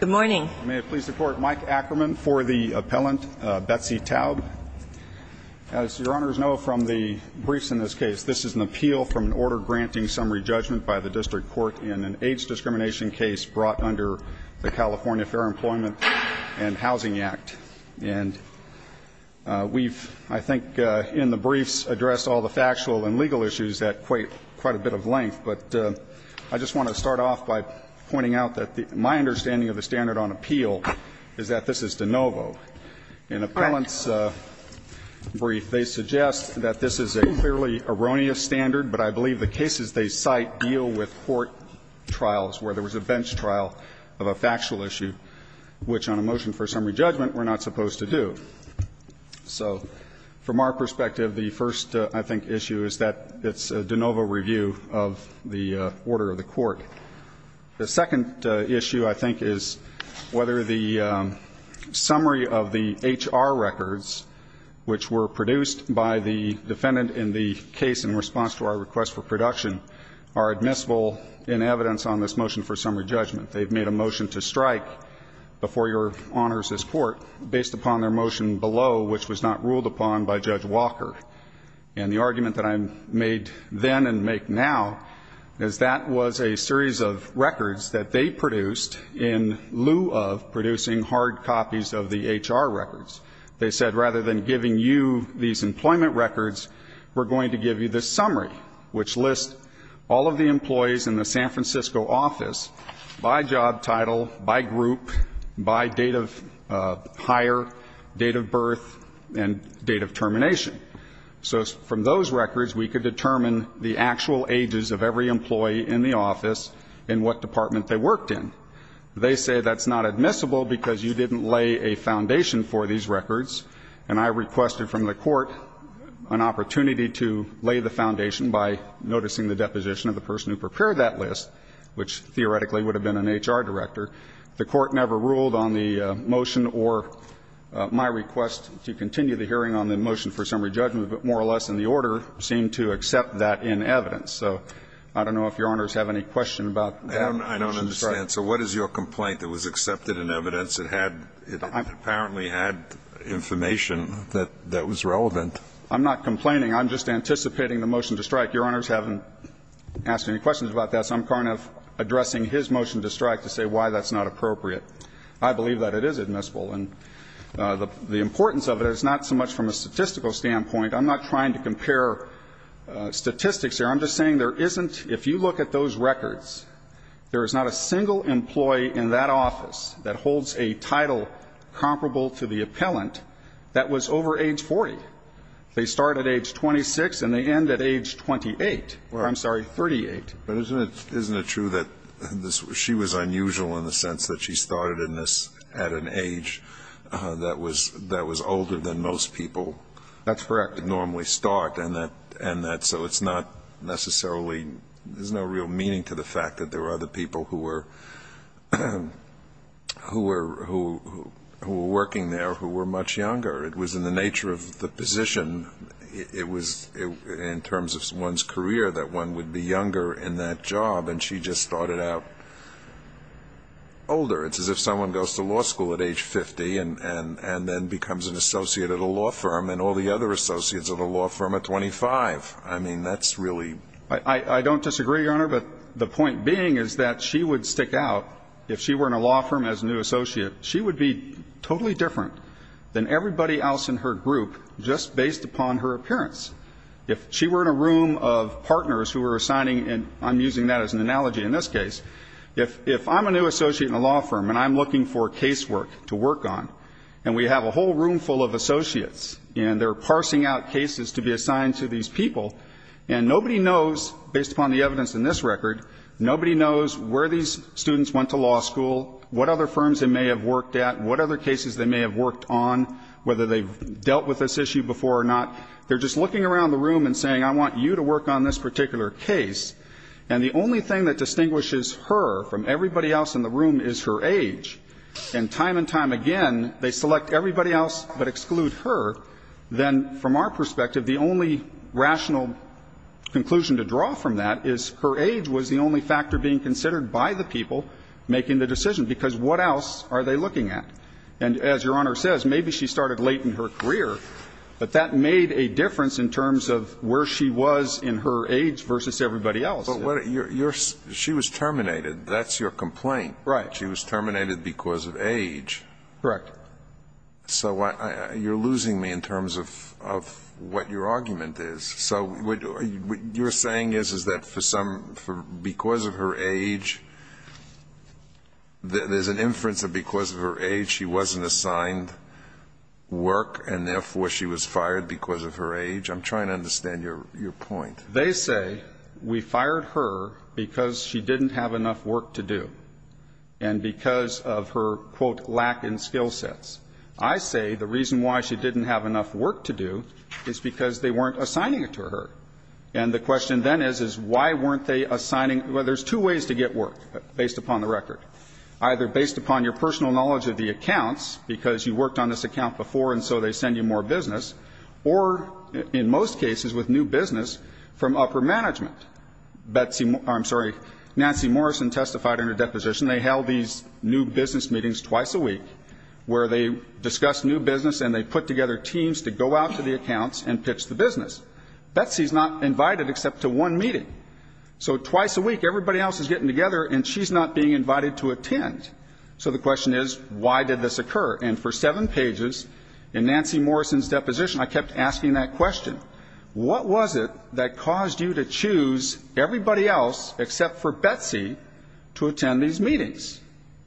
Good morning. May it please the Court, Mike Ackerman for the appellant, Betsy Taub. As Your Honors know from the briefs in this case, this is an appeal from an order granting summary judgment by the District Court in an AIDS discrimination case brought under the California Fair Employment and Housing Act. And we've, I think, in the briefs, addressed all the factual and legal issues at quite a bit of length, but I just want to start off by pointing out that my understanding of the standard on appeal is that this is de novo. In appellant's brief, they suggest that this is a clearly erroneous standard, but I believe the cases they cite deal with court trials where there was a bench trial of a factual issue, which on a motion for summary judgment we're not supposed to do. So from our perspective, the first, I think, issue is that it's a de novo review of the order of the court. The second issue, I think, is whether the summary of the HR records, which were produced by the defendant in the case in response to our request for production, are admissible in evidence on this motion for summary judgment. They've made a motion to strike before Your Honors' court based upon their motion below, which was not ruled upon by Judge Walker. And the argument that I made then and make now is that was a series of records that they produced in lieu of producing hard copies of the HR records. They said rather than giving you these employment records, we're going to give you the summary, which lists all of the employees in the San Francisco office by job title, by group, by date of hire, date of birth, and date of termination. So from those records, we could determine the actual ages of every employee in the office and what department they worked in. They say that's not admissible because you didn't lay a foundation for these records. And I requested from the court an opportunity to lay the foundation by noticing the deposition of the person who prepared that list, which theoretically would have been an HR director. The court never ruled on the motion or my request to continue the hearing on the motion for summary judgment, but more or less in the order, seemed to accept that in evidence. So I don't know if Your Honors have any question about that. I don't understand. So what is your complaint that was accepted in evidence? It had – it apparently had information that was relevant. I'm not complaining. I'm just anticipating the motion to strike. Your Honors haven't asked any questions about that, so I'm kind of addressing his motion to strike to say why that's not appropriate. I believe that it is admissible. And the importance of it is not so much from a statistical standpoint. I'm not trying to compare statistics here. I'm just saying there isn't – if you look at those records, there is not a single employee in that office that holds a title comparable to the appellant that was over age 40. They start at age 26 and they end at age 28. I'm sorry, 38. But isn't it true that she was unusual in the sense that she started in this at an age that was older than most people normally start? That's correct. And that – so it's not necessarily – there's no real meaning to the fact that there were other people who were working there who were much younger. It was in the nature of the position. It was in terms of one's career that one would be younger in that job, and she just started out older. It's as if someone goes to law school at age 50 and then becomes an associate at a law firm and all the other associates at a law firm at 25. I mean, that's really – I don't disagree, Your Honor, but the point being is that she would stick out if she were in a law firm as a new associate. She would be totally different than everybody else in her group just based upon her appearance. If she were in a room of partners who were assigning – and I'm using that as an analogy in this case. If I'm a new associate in a law firm and I'm looking for casework to work on, and we have a whole room full of associates, and they're parsing out cases to be assigned to these people, and nobody knows, based upon the evidence in this record, nobody knows where these students went to law school, what other firms they may have worked at, what other cases they may have worked on, whether they've dealt with this issue before or not. They're just looking around the room and saying, I want you to work on this particular case. And the only thing that distinguishes her from everybody else in the room is her age. And time and time again, they select everybody else but exclude her. Then from our perspective, the only rational conclusion to draw from that is her age was the only factor being considered by the people making the decision, because what else are they looking at? And as Your Honor says, maybe she started late in her career, but that made a difference in terms of where she was in her age versus everybody else. Alito, she was terminated. That's your complaint. Right. She was terminated because of age. Correct. So you're losing me in terms of what your argument is. So what you're saying is, is that for some, because of her age, there's an inference that because of her age, she wasn't assigned work, and therefore she was fired because of her age? I'm trying to understand your point. They say we fired her because she didn't have enough work to do and because of her, quote, lack in skill sets. I say the reason why she didn't have enough work to do is because they weren't assigning it to her. And the question then is, is why weren't they assigning? Well, there's two ways to get work, based upon the record, either based upon your personal knowledge of the accounts, because you worked on this account before, and so they send you more business, or, in most cases, with new business from upper management. Betsy, I'm sorry, Nancy Morrison testified under deposition they held these new business meetings twice a week where they discussed new business and they put together teams to go out to the accounts and pitch the business. Betsy's not invited except to one meeting. So twice a week, everybody else is getting together, and she's not being invited to attend. So the question is, why did this occur? And for seven pages, in Nancy Morrison's deposition, I kept asking that question. What was it that caused you to choose everybody else except for Betsy to attend these meetings?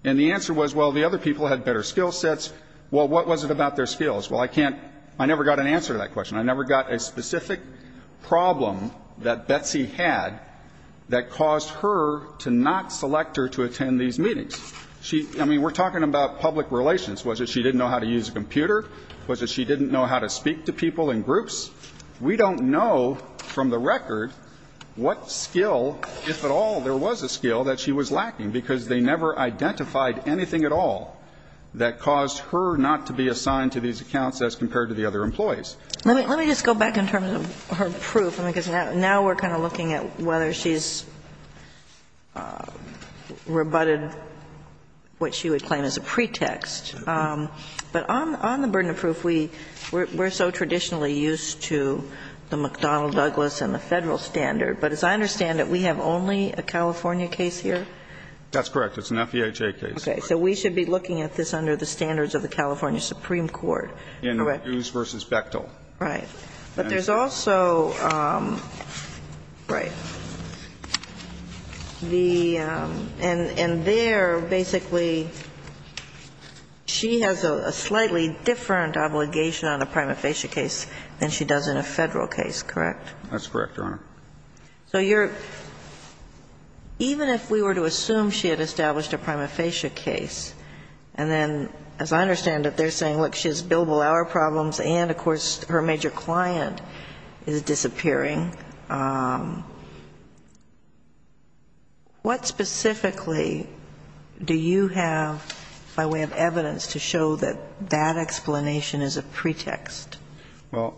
And the answer was, well, the other people had better skill sets. Well, what was it about their skills? Well, I can't, I never got an answer to that question. I never got a specific problem that Betsy had that caused her to not select her to attend these meetings. She, I mean, we're talking about public relations. Was it she didn't know how to use a computer? Was it she didn't know how to speak to people in groups? We don't know from the record what skill, if at all, there was a skill that she was lacking, because they never identified anything at all that caused her not to be assigned to these accounts as compared to the other employees. Let me just go back in terms of her proof, because now we're kind of looking at whether she's rebutted what she would claim as a pretext. But on the burden of proof, we're so traditionally used to the McDonnell-Douglas and the Federal standard, but as I understand it, we have only a California case here? That's correct. It's an FEHA case. Okay. So we should be looking at this under the standards of the California Supreme Court. Correct. So, Mr. Lyles, I want tell you that on 2016 and 17, there was no assertion Notorally she paid for that degrees versus Bechtel. Right. But there's also the and there, basically, she has a slightly different obligation on a prima facie case than she does in a Federal case, correct? That's correct, Your Honor. So you're, even if we were to assume she had established a prima facie case and then, as I understand it, they're saying, look, she has billable hour problems and, of course, her major client is disappearing, what specifically do you have, by way of evidence, to show that that explanation is a pretext? Well,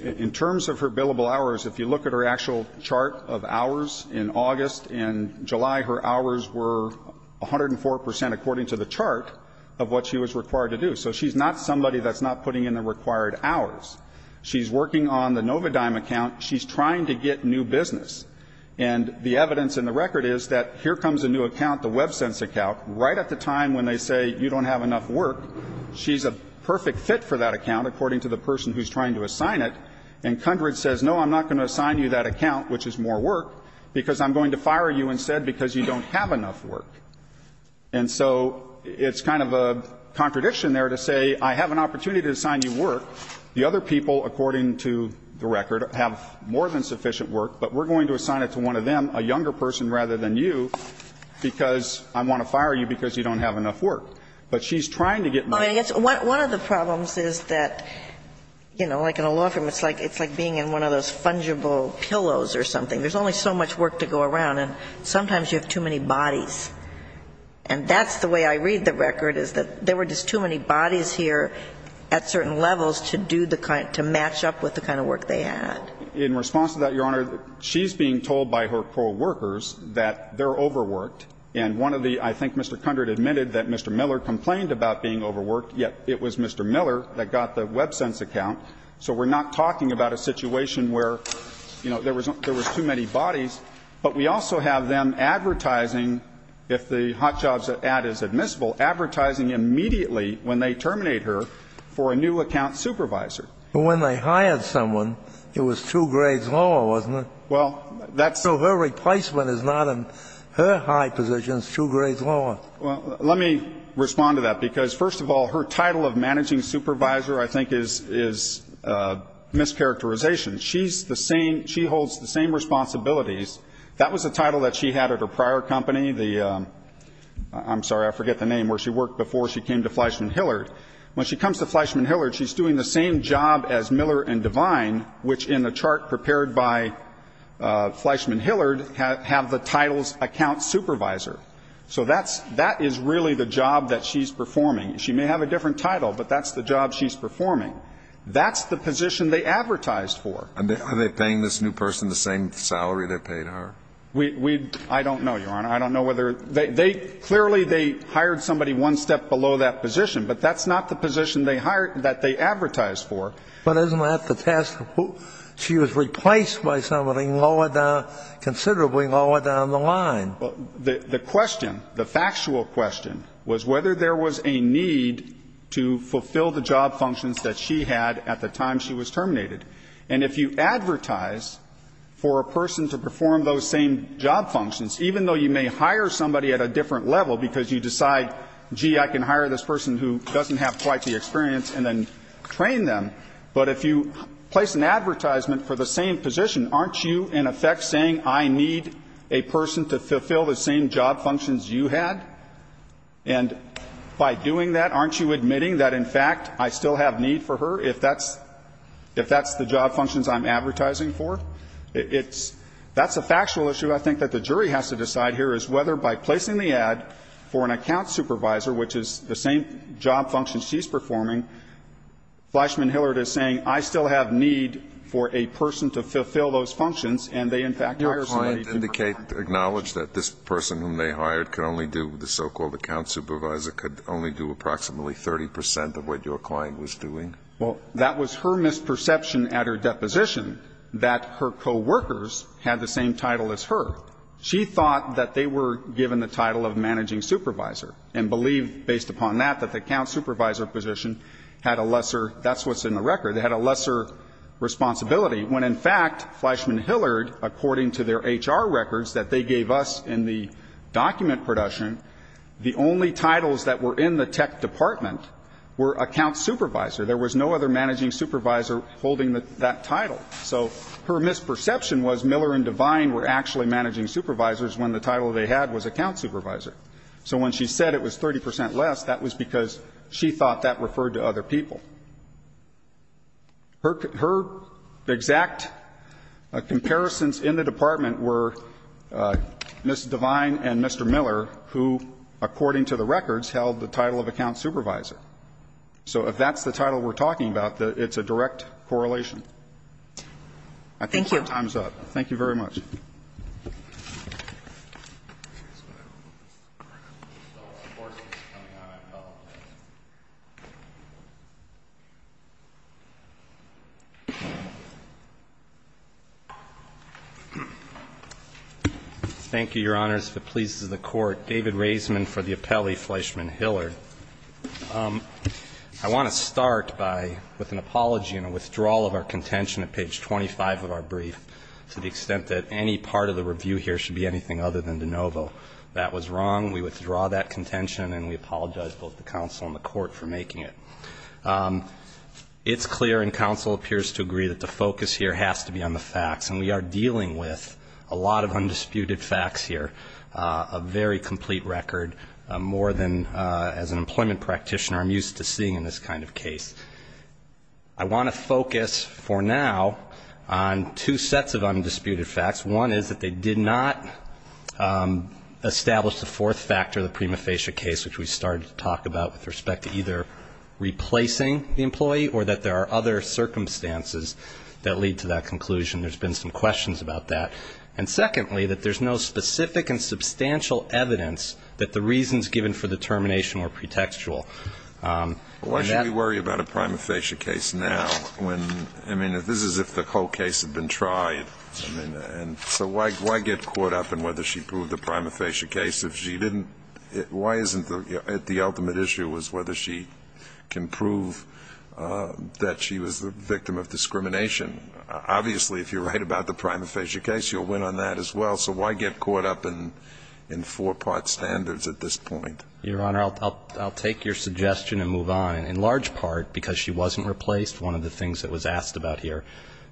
in terms of her billable hours, if you look at her actual chart of hours in August and July, her hours were 104 percent according to the chart of what she was required to do. So she's not somebody that's not putting in the required hours. She's working on the Novodime account. She's trying to get new business. And the evidence in the record is that here comes a new account, the WebSense account, right at the time when they say you don't have enough work, she's a perfect fit for that account, according to the person who's trying to assign it, and Cundred says, no, I'm not going to assign you that account, which is more work, because I'm going to fire you instead because you don't have enough work. And so it's kind of a contradiction there to say I have an opportunity to assign you work. The other people, according to the record, have more than sufficient work, but we're going to assign it to one of them, a younger person rather than you, because I want to fire you because you don't have enough work. But she's trying to get more. One of the problems is that, you know, like in a law firm, it's like being in one of those fungible pillows or something. There's only so much work to go around, and sometimes you have too many bodies. And that's the way I read the record, is that there were just too many bodies here at certain levels to do the kind of – to match up with the kind of work they had. So in response to that, Your Honor, she's being told by her co-workers that they're overworked. And one of the – I think Mr. Cundred admitted that Mr. Miller complained about being overworked, yet it was Mr. Miller that got the WebSense account. So we're not talking about a situation where, you know, there was too many bodies. But we also have them advertising, if the hot jobs ad is admissible, advertising immediately when they terminate her for a new account supervisor. But when they hired someone, it was two grades lower, wasn't it? Well, that's – So her replacement is not in her high position. It's two grades lower. Well, let me respond to that, because, first of all, her title of managing supervisor, I think, is – is mischaracterization. She's the same – she holds the same responsibilities. That was the title that she had at her prior company, the – I'm sorry, I forget the name – where she worked before she came to Fleischman Hillard. When she comes to Fleischman Hillard, she's doing the same job as Miller and Devine, which in the chart prepared by Fleischman Hillard have the title's account supervisor. So that's – that is really the job that she's performing. She may have a different title, but that's the job she's performing. That's the position they advertised for. Are they paying this new person the same salary they paid her? We – I don't know, Your Honor. I don't know whether – they – clearly, they hired somebody one step below that position, but that's not the position they hired – that they advertised for. But isn't that the task of who – she was replaced by somebody lower down – considerably lower down the line. The question, the factual question, was whether there was a need to fulfill the job functions that she had at the time she was terminated. And if you advertise for a person to perform those same job functions, even though you may hire somebody at a different level because you decide, gee, I can hire this person who doesn't have quite the experience and then train them, but if you place an advertisement for the same position, aren't you, in effect, saying I need a person to fulfill the same job functions you had? And by doing that, aren't you admitting that, in fact, I still have need for her, if that's – if that's the job functions I'm advertising for? It's – that's a factual issue. I think that the jury has to decide here is whether, by placing the ad for an account supervisor, which is the same job functions she's performing, Fleischmann-Hillert is saying I still have need for a person to fulfill those functions, and they, in fact, hired somebody to perform them. Your client acknowledged that this person whom they hired could only do – the so-called account supervisor could only do approximately 30 percent of what your client was doing? Well, that was her misperception at her deposition, that her co-workers had the same title as her. She thought that they were given the title of managing supervisor and believed, based upon that, that the account supervisor position had a lesser – that's what's in the record – it had a lesser responsibility, when, in fact, Fleischmann-Hillert, according to their HR records that they gave us in the document production, the only titles that were in the tech department were account supervisor. There was no other managing supervisor holding that title. So her misperception was Miller and Devine were actually managing supervisors when the title they had was account supervisor. So when she said it was 30 percent less, that was because she thought that referred to other people. Her exact comparisons in the department were Ms. Devine and Mr. Miller, who, according to the records, held the title of account supervisor. So if that's the title we're talking about, it's a direct correlation. I think your time's up. Thank you very much. Thank you, Your Honors. If it pleases the Court, David Raisman for the appellee, Fleischmann-Hillert. I want to start with an apology and a withdrawal of our contention at page 25 of our brief to the extent that any part of the review here should be anything other than de novo. That was wrong. We withdraw that contention, and we apologize both to counsel and the Court for making it. It's clear, and counsel appears to agree, that the focus here has to be on the facts, and we are dealing with a lot of undisputed facts here, a very complete record, more than as an employment practitioner I'm used to seeing in this kind of case. I want to focus for now on two sets of undisputed facts. One is that they did not establish the fourth factor of the prima facie case, which we started to talk about with respect to either replacing the employee or that there are other circumstances that lead to that conclusion. There's been some questions about that. And secondly, that there's no specific and substantial evidence that the reasons given for the termination were pretextual. Why should we worry about a prima facie case now when, I mean, this is if the whole case had been tried. I mean, and so why get caught up in whether she proved the prima facie case if she didn't why isn't it the ultimate issue was whether she can prove that she was the victim of discrimination. Obviously if you're right about the prima facie case, you'll win on that as well. So why get caught up in four-part standards at this point? Your Honor, I'll take your suggestion and move on. In large part because she wasn't replaced, one of the things that was asked about here,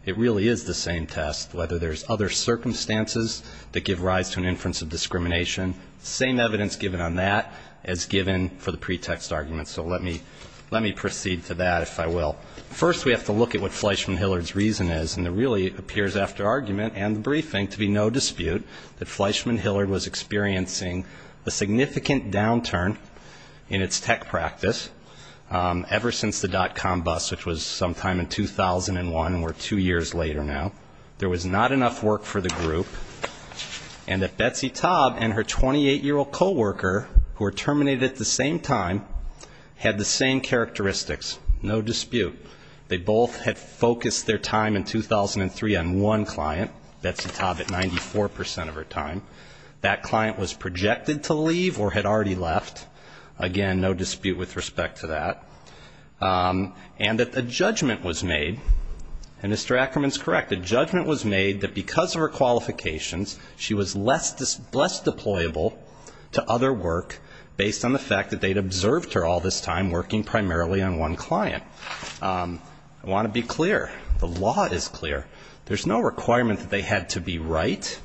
it really is the same test, whether there's other circumstances that give rise to an inference of discrimination. Same evidence given on that as given for the pretext argument. So let me proceed to that if I will. First we have to look at what Fleishman-Hillard's reason is, and it really appears after argument and the briefing to be no dispute that Fleishman-Hillard was experiencing a significant downturn in its tech practice ever since the dot-com bust, which was sometime in 2001, and we're two years later now. There was not enough work for the group, and that Betsy Taub and her 28-year-old coworker who were terminated at the same time had the same characteristics, no dispute. They both had focused their time in 2003 on one client, Betsy Taub, at 94% of her time. That client was projected to leave or had already left, again, no dispute with respect to that, and that the judgment was made, and Mr. Ackerman's correct, the judgment was made that because of her qualifications, she was less deployable to other work based on the I want to be clear. The law is clear. There's no requirement that they had to be right.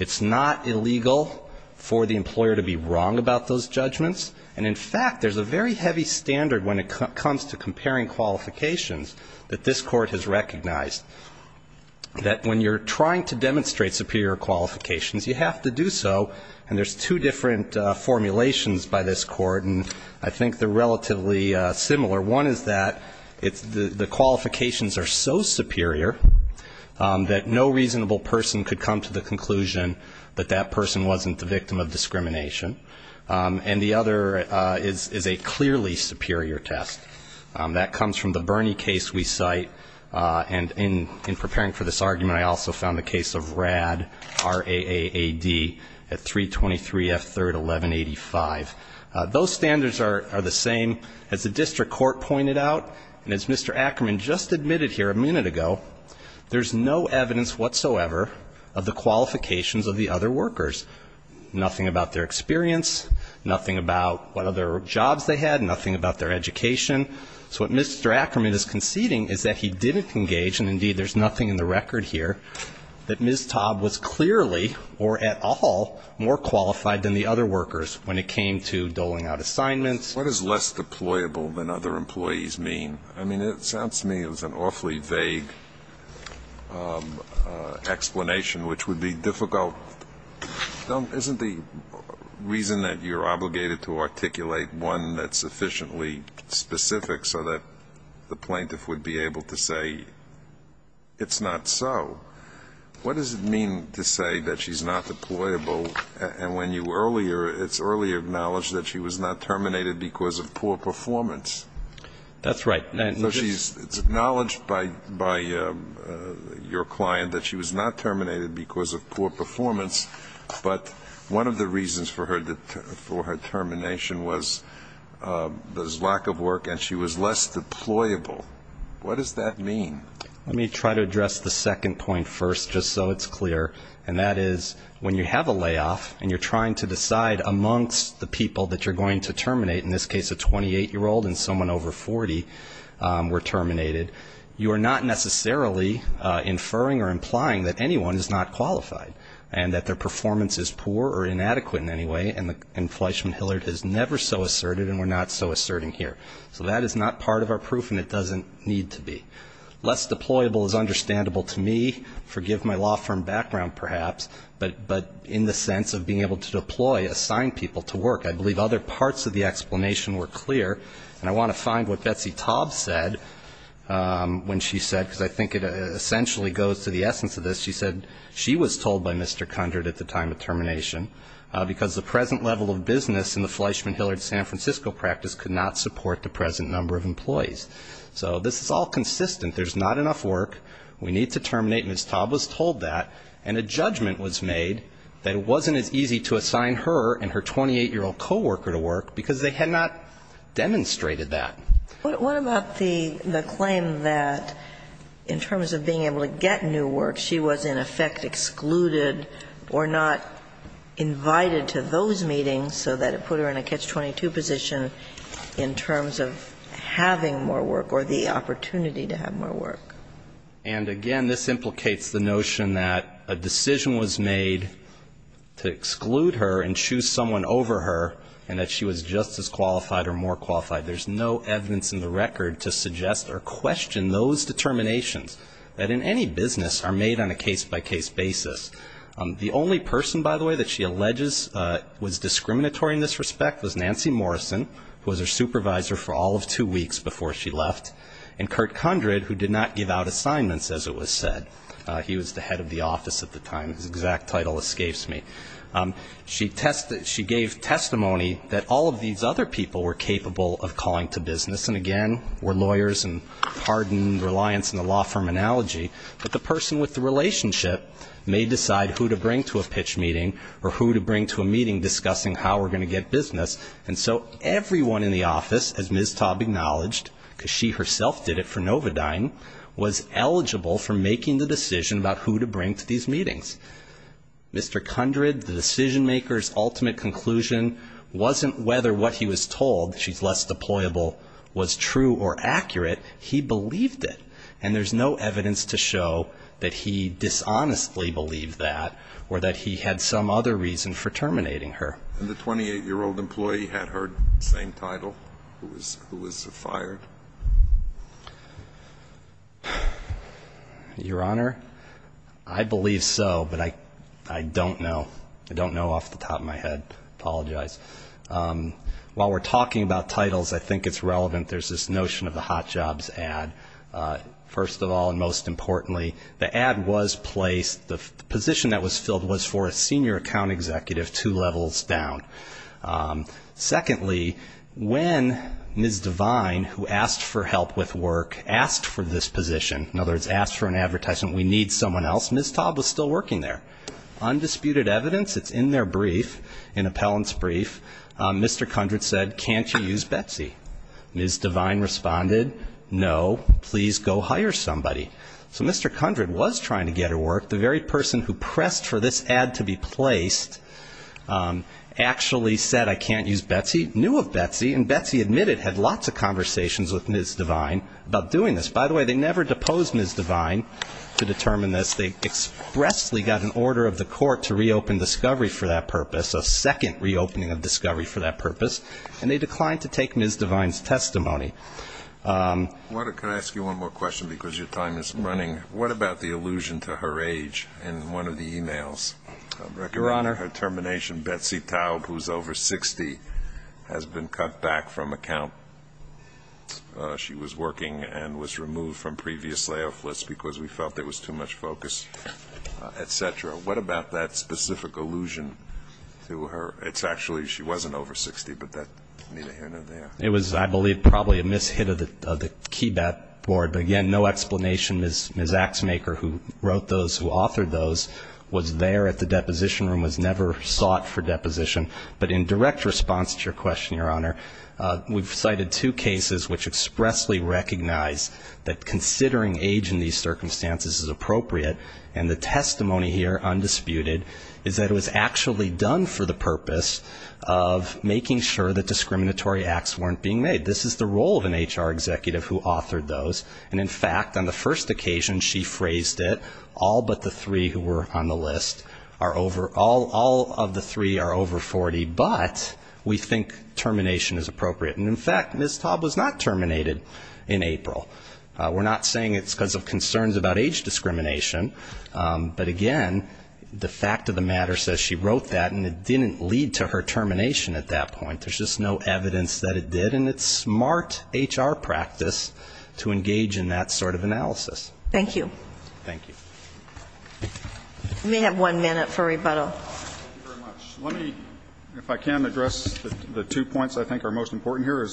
It's not illegal for the employer to be wrong about those judgments, and in fact, there's a very heavy standard when it comes to comparing qualifications that this court has recognized, that when you're trying to demonstrate superior qualifications, you have to do so, and there's two different formulations by this court, and I think they're relatively similar. One is that the qualifications are so superior that no reasonable person could come to the conclusion that that person wasn't the victim of discrimination, and the other is a clearly superior test. That comes from the Bernie case we cite, and in preparing for this argument, I also found the case of Radd, R-A-A-D, at 323 F. 3rd, 1185. Those standards are the same as the district court pointed out, and as Mr. Ackerman just admitted here a minute ago, there's no evidence whatsoever of the qualifications of the other workers, nothing about their experience, nothing about what other jobs they had, nothing about their education. So what Mr. Ackerman is conceding is that he didn't engage, and indeed, there's nothing in the record here, that Ms. Taub was clearly or at all more qualified than the other workers when it came to doling out assignments. What does less deployable than other employees mean? I mean, it sounds to me it was an awfully vague explanation, which would be difficult. Isn't the reason that you're obligated to articulate one that's sufficiently specific so that the plaintiff would be able to say it's not so? What does it mean to say that she's not deployable, and when you earlier, it's earlier acknowledged that she was not terminated because of poor performance? That's right. So she's acknowledged by your client that she was not terminated because of poor performance, but one of the reasons for her termination was lack of work and she was less deployable. What does that mean? Let me try to address the second point first just so it's clear, and that is when you have a layoff and you're trying to decide amongst the people that you're going to terminate, in this case a 28-year-old and someone over 40 were terminated, you are not necessarily inferring or implying that anyone is not qualified and that their performance is poor or inadequate in any way, and Fleishman-Hillard has never so asserted and we're not so asserting here. So that is not part of our proof and it doesn't need to be. Less deployable is understandable to me, forgive my law firm background perhaps, but in the sense of being able to deploy, assign people to work, I believe other parts of the explanation were clear and I want to find what Betsy Taub said when she said, because I think it essentially goes to the essence of this, she said she was told by Mr. Kundrat at the time of termination because the present level of business in the Fleishman-Hillard San Francisco practice could not support the present number of employees. So this is all consistent. There's not enough work. We need to terminate. Ms. Taub was told that and a judgment was made that it wasn't as easy to assign her and her 28-year-old coworker to work because they had not demonstrated that. What about the claim that in terms of being able to get new work, she was in effect excluded or not invited to those meetings so that it put her in a catch-22 position in terms of having more work or the opportunity to have more work? And again, this implicates the notion that a decision was made to exclude her and choose someone over her and that she was just as qualified or more qualified. There's no evidence in the record to suggest or question those determinations that in any business are made on a case-by-case basis. The only person, by the way, that she alleges was discriminatory in this respect was Nancy Morrison who was her supervisor for all of two weeks before she left and Kurt Kundrat who did not give out assignments as it was said. He was the head of the office at the time. His exact title escapes me. She gave testimony that all of these other people were capable of calling to business and again were lawyers and hardened reliance on the law firm analogy, but the person with the relationship may decide who to bring to a pitch meeting or who to bring to a meeting discussing how we're going to get business. And so everyone in the office, as Ms. Taub acknowledged, because she herself did it for Novodyne, was eligible for making the decision about who to bring to these meetings. Mr. Kundrat, the decision-maker's ultimate conclusion wasn't whether what he was told she's less deployable was true or accurate. He believed it. And there's no evidence to show that he dishonestly believed that or that he had some other reason for terminating her. And the 28-year-old employee had her same title who was fired? Your Honor, I believe so, but I don't know. I apologize. While we're talking about titles, I think it's relevant. There's this notion of the hot jobs ad. First of all, and most importantly, the ad was placed, the position that was filled was for a senior account executive two levels down. Secondly, when Ms. Devine, who asked for help with work, asked for this position, in other words, asked for an advertisement, we need someone else, Ms. Taub was still working there. Undisputed evidence, it's in their brief, an appellant's brief, Mr. Kundrat said, can't you use Betsy? Ms. Devine responded, no, please go hire somebody. So Mr. Kundrat was trying to get her work. The very person who pressed for this ad to be placed actually said, I can't use Betsy, knew of Betsy, and Betsy admitted had lots of conversations with Ms. Devine about doing this. By the way, they never deposed Ms. Devine to determine this. They expressly got an order of the court to reopen Discovery for that purpose, a second reopening of Discovery for that purpose, and they declined to take Ms. Devine's testimony. Walter, can I ask you one more question because your time is running? What about the allusion to her age in one of the emails? Your Honor. Regarding her termination, Betsy Taub, who's over 60, has been cut back from account. She was working and was removed from previous layoff lists because we felt there was too much focus, et cetera. What about that specific allusion to her? It's actually, she wasn't over 60, but that's neither here nor there. It was, I believe, probably a mishit of the KeyBat Board, but again, no explanation. Ms. Axemaker, who wrote those, who authored those, was there at the deposition room, was never sought for deposition. But in direct response to your question, Your Honor, we've cited two cases which expressly recognize that considering age in these circumstances is appropriate, and the testimony here, undisputed, is that it was actually done for the purpose of making sure that discriminatory acts weren't being made. This is the role of an HR executive who authored those, and in fact, on the first occasion, she phrased it, all but the three who were on the list are over, all of the three are over 40, but we think termination is appropriate. And in fact, Ms. Taub was not terminated in April. We're not saying it's because of concerns about age discrimination, but again, the fact of the matter says she wrote that, and it didn't lead to her termination at that point. There's just no evidence that it did, and it's smart HR practice to engage in that sort of analysis. Thank you. Thank you. We may have one minute for rebuttal. Thank you very much. Let me, if I can, address the two points I think are most important here.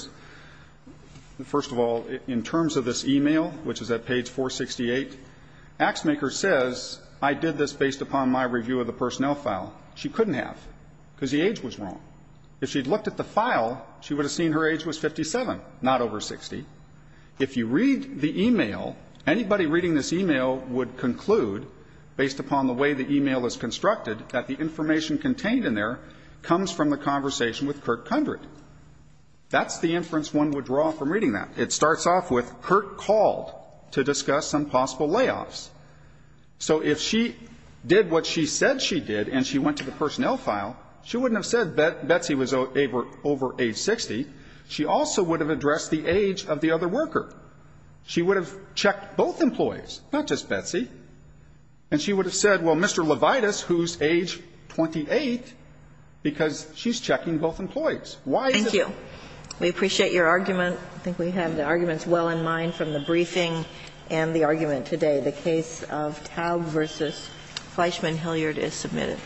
First of all, in terms of this e-mail, which is at page 468, AXMAKER says, I did this based upon my review of the personnel file. She couldn't have, because the age was wrong. If she had looked at the file, she would have seen her age was 57, not over 60. If you read the e-mail, anybody reading this e-mail would conclude, based upon the way the e-mail is constructed, that the information contained in there comes from the conversation with Kurt Kundrat. That's the inference one would draw from reading that. It starts off with, Kurt called to discuss some possible layoffs. So if she did what she said she did and she went to the personnel file, she wouldn't have said Betsy was over age 60. She also would have addressed the age of the other worker. She would have checked both employees, not just Betsy. And she would have said, well, Mr. Levitas, who's age 28, because she's checking both employees. Why is it? Kagan. We appreciate your argument. I think we have the arguments well in mind from the briefing and the argument today. The case of Taub v. Fleischman-Hilliard is submitted.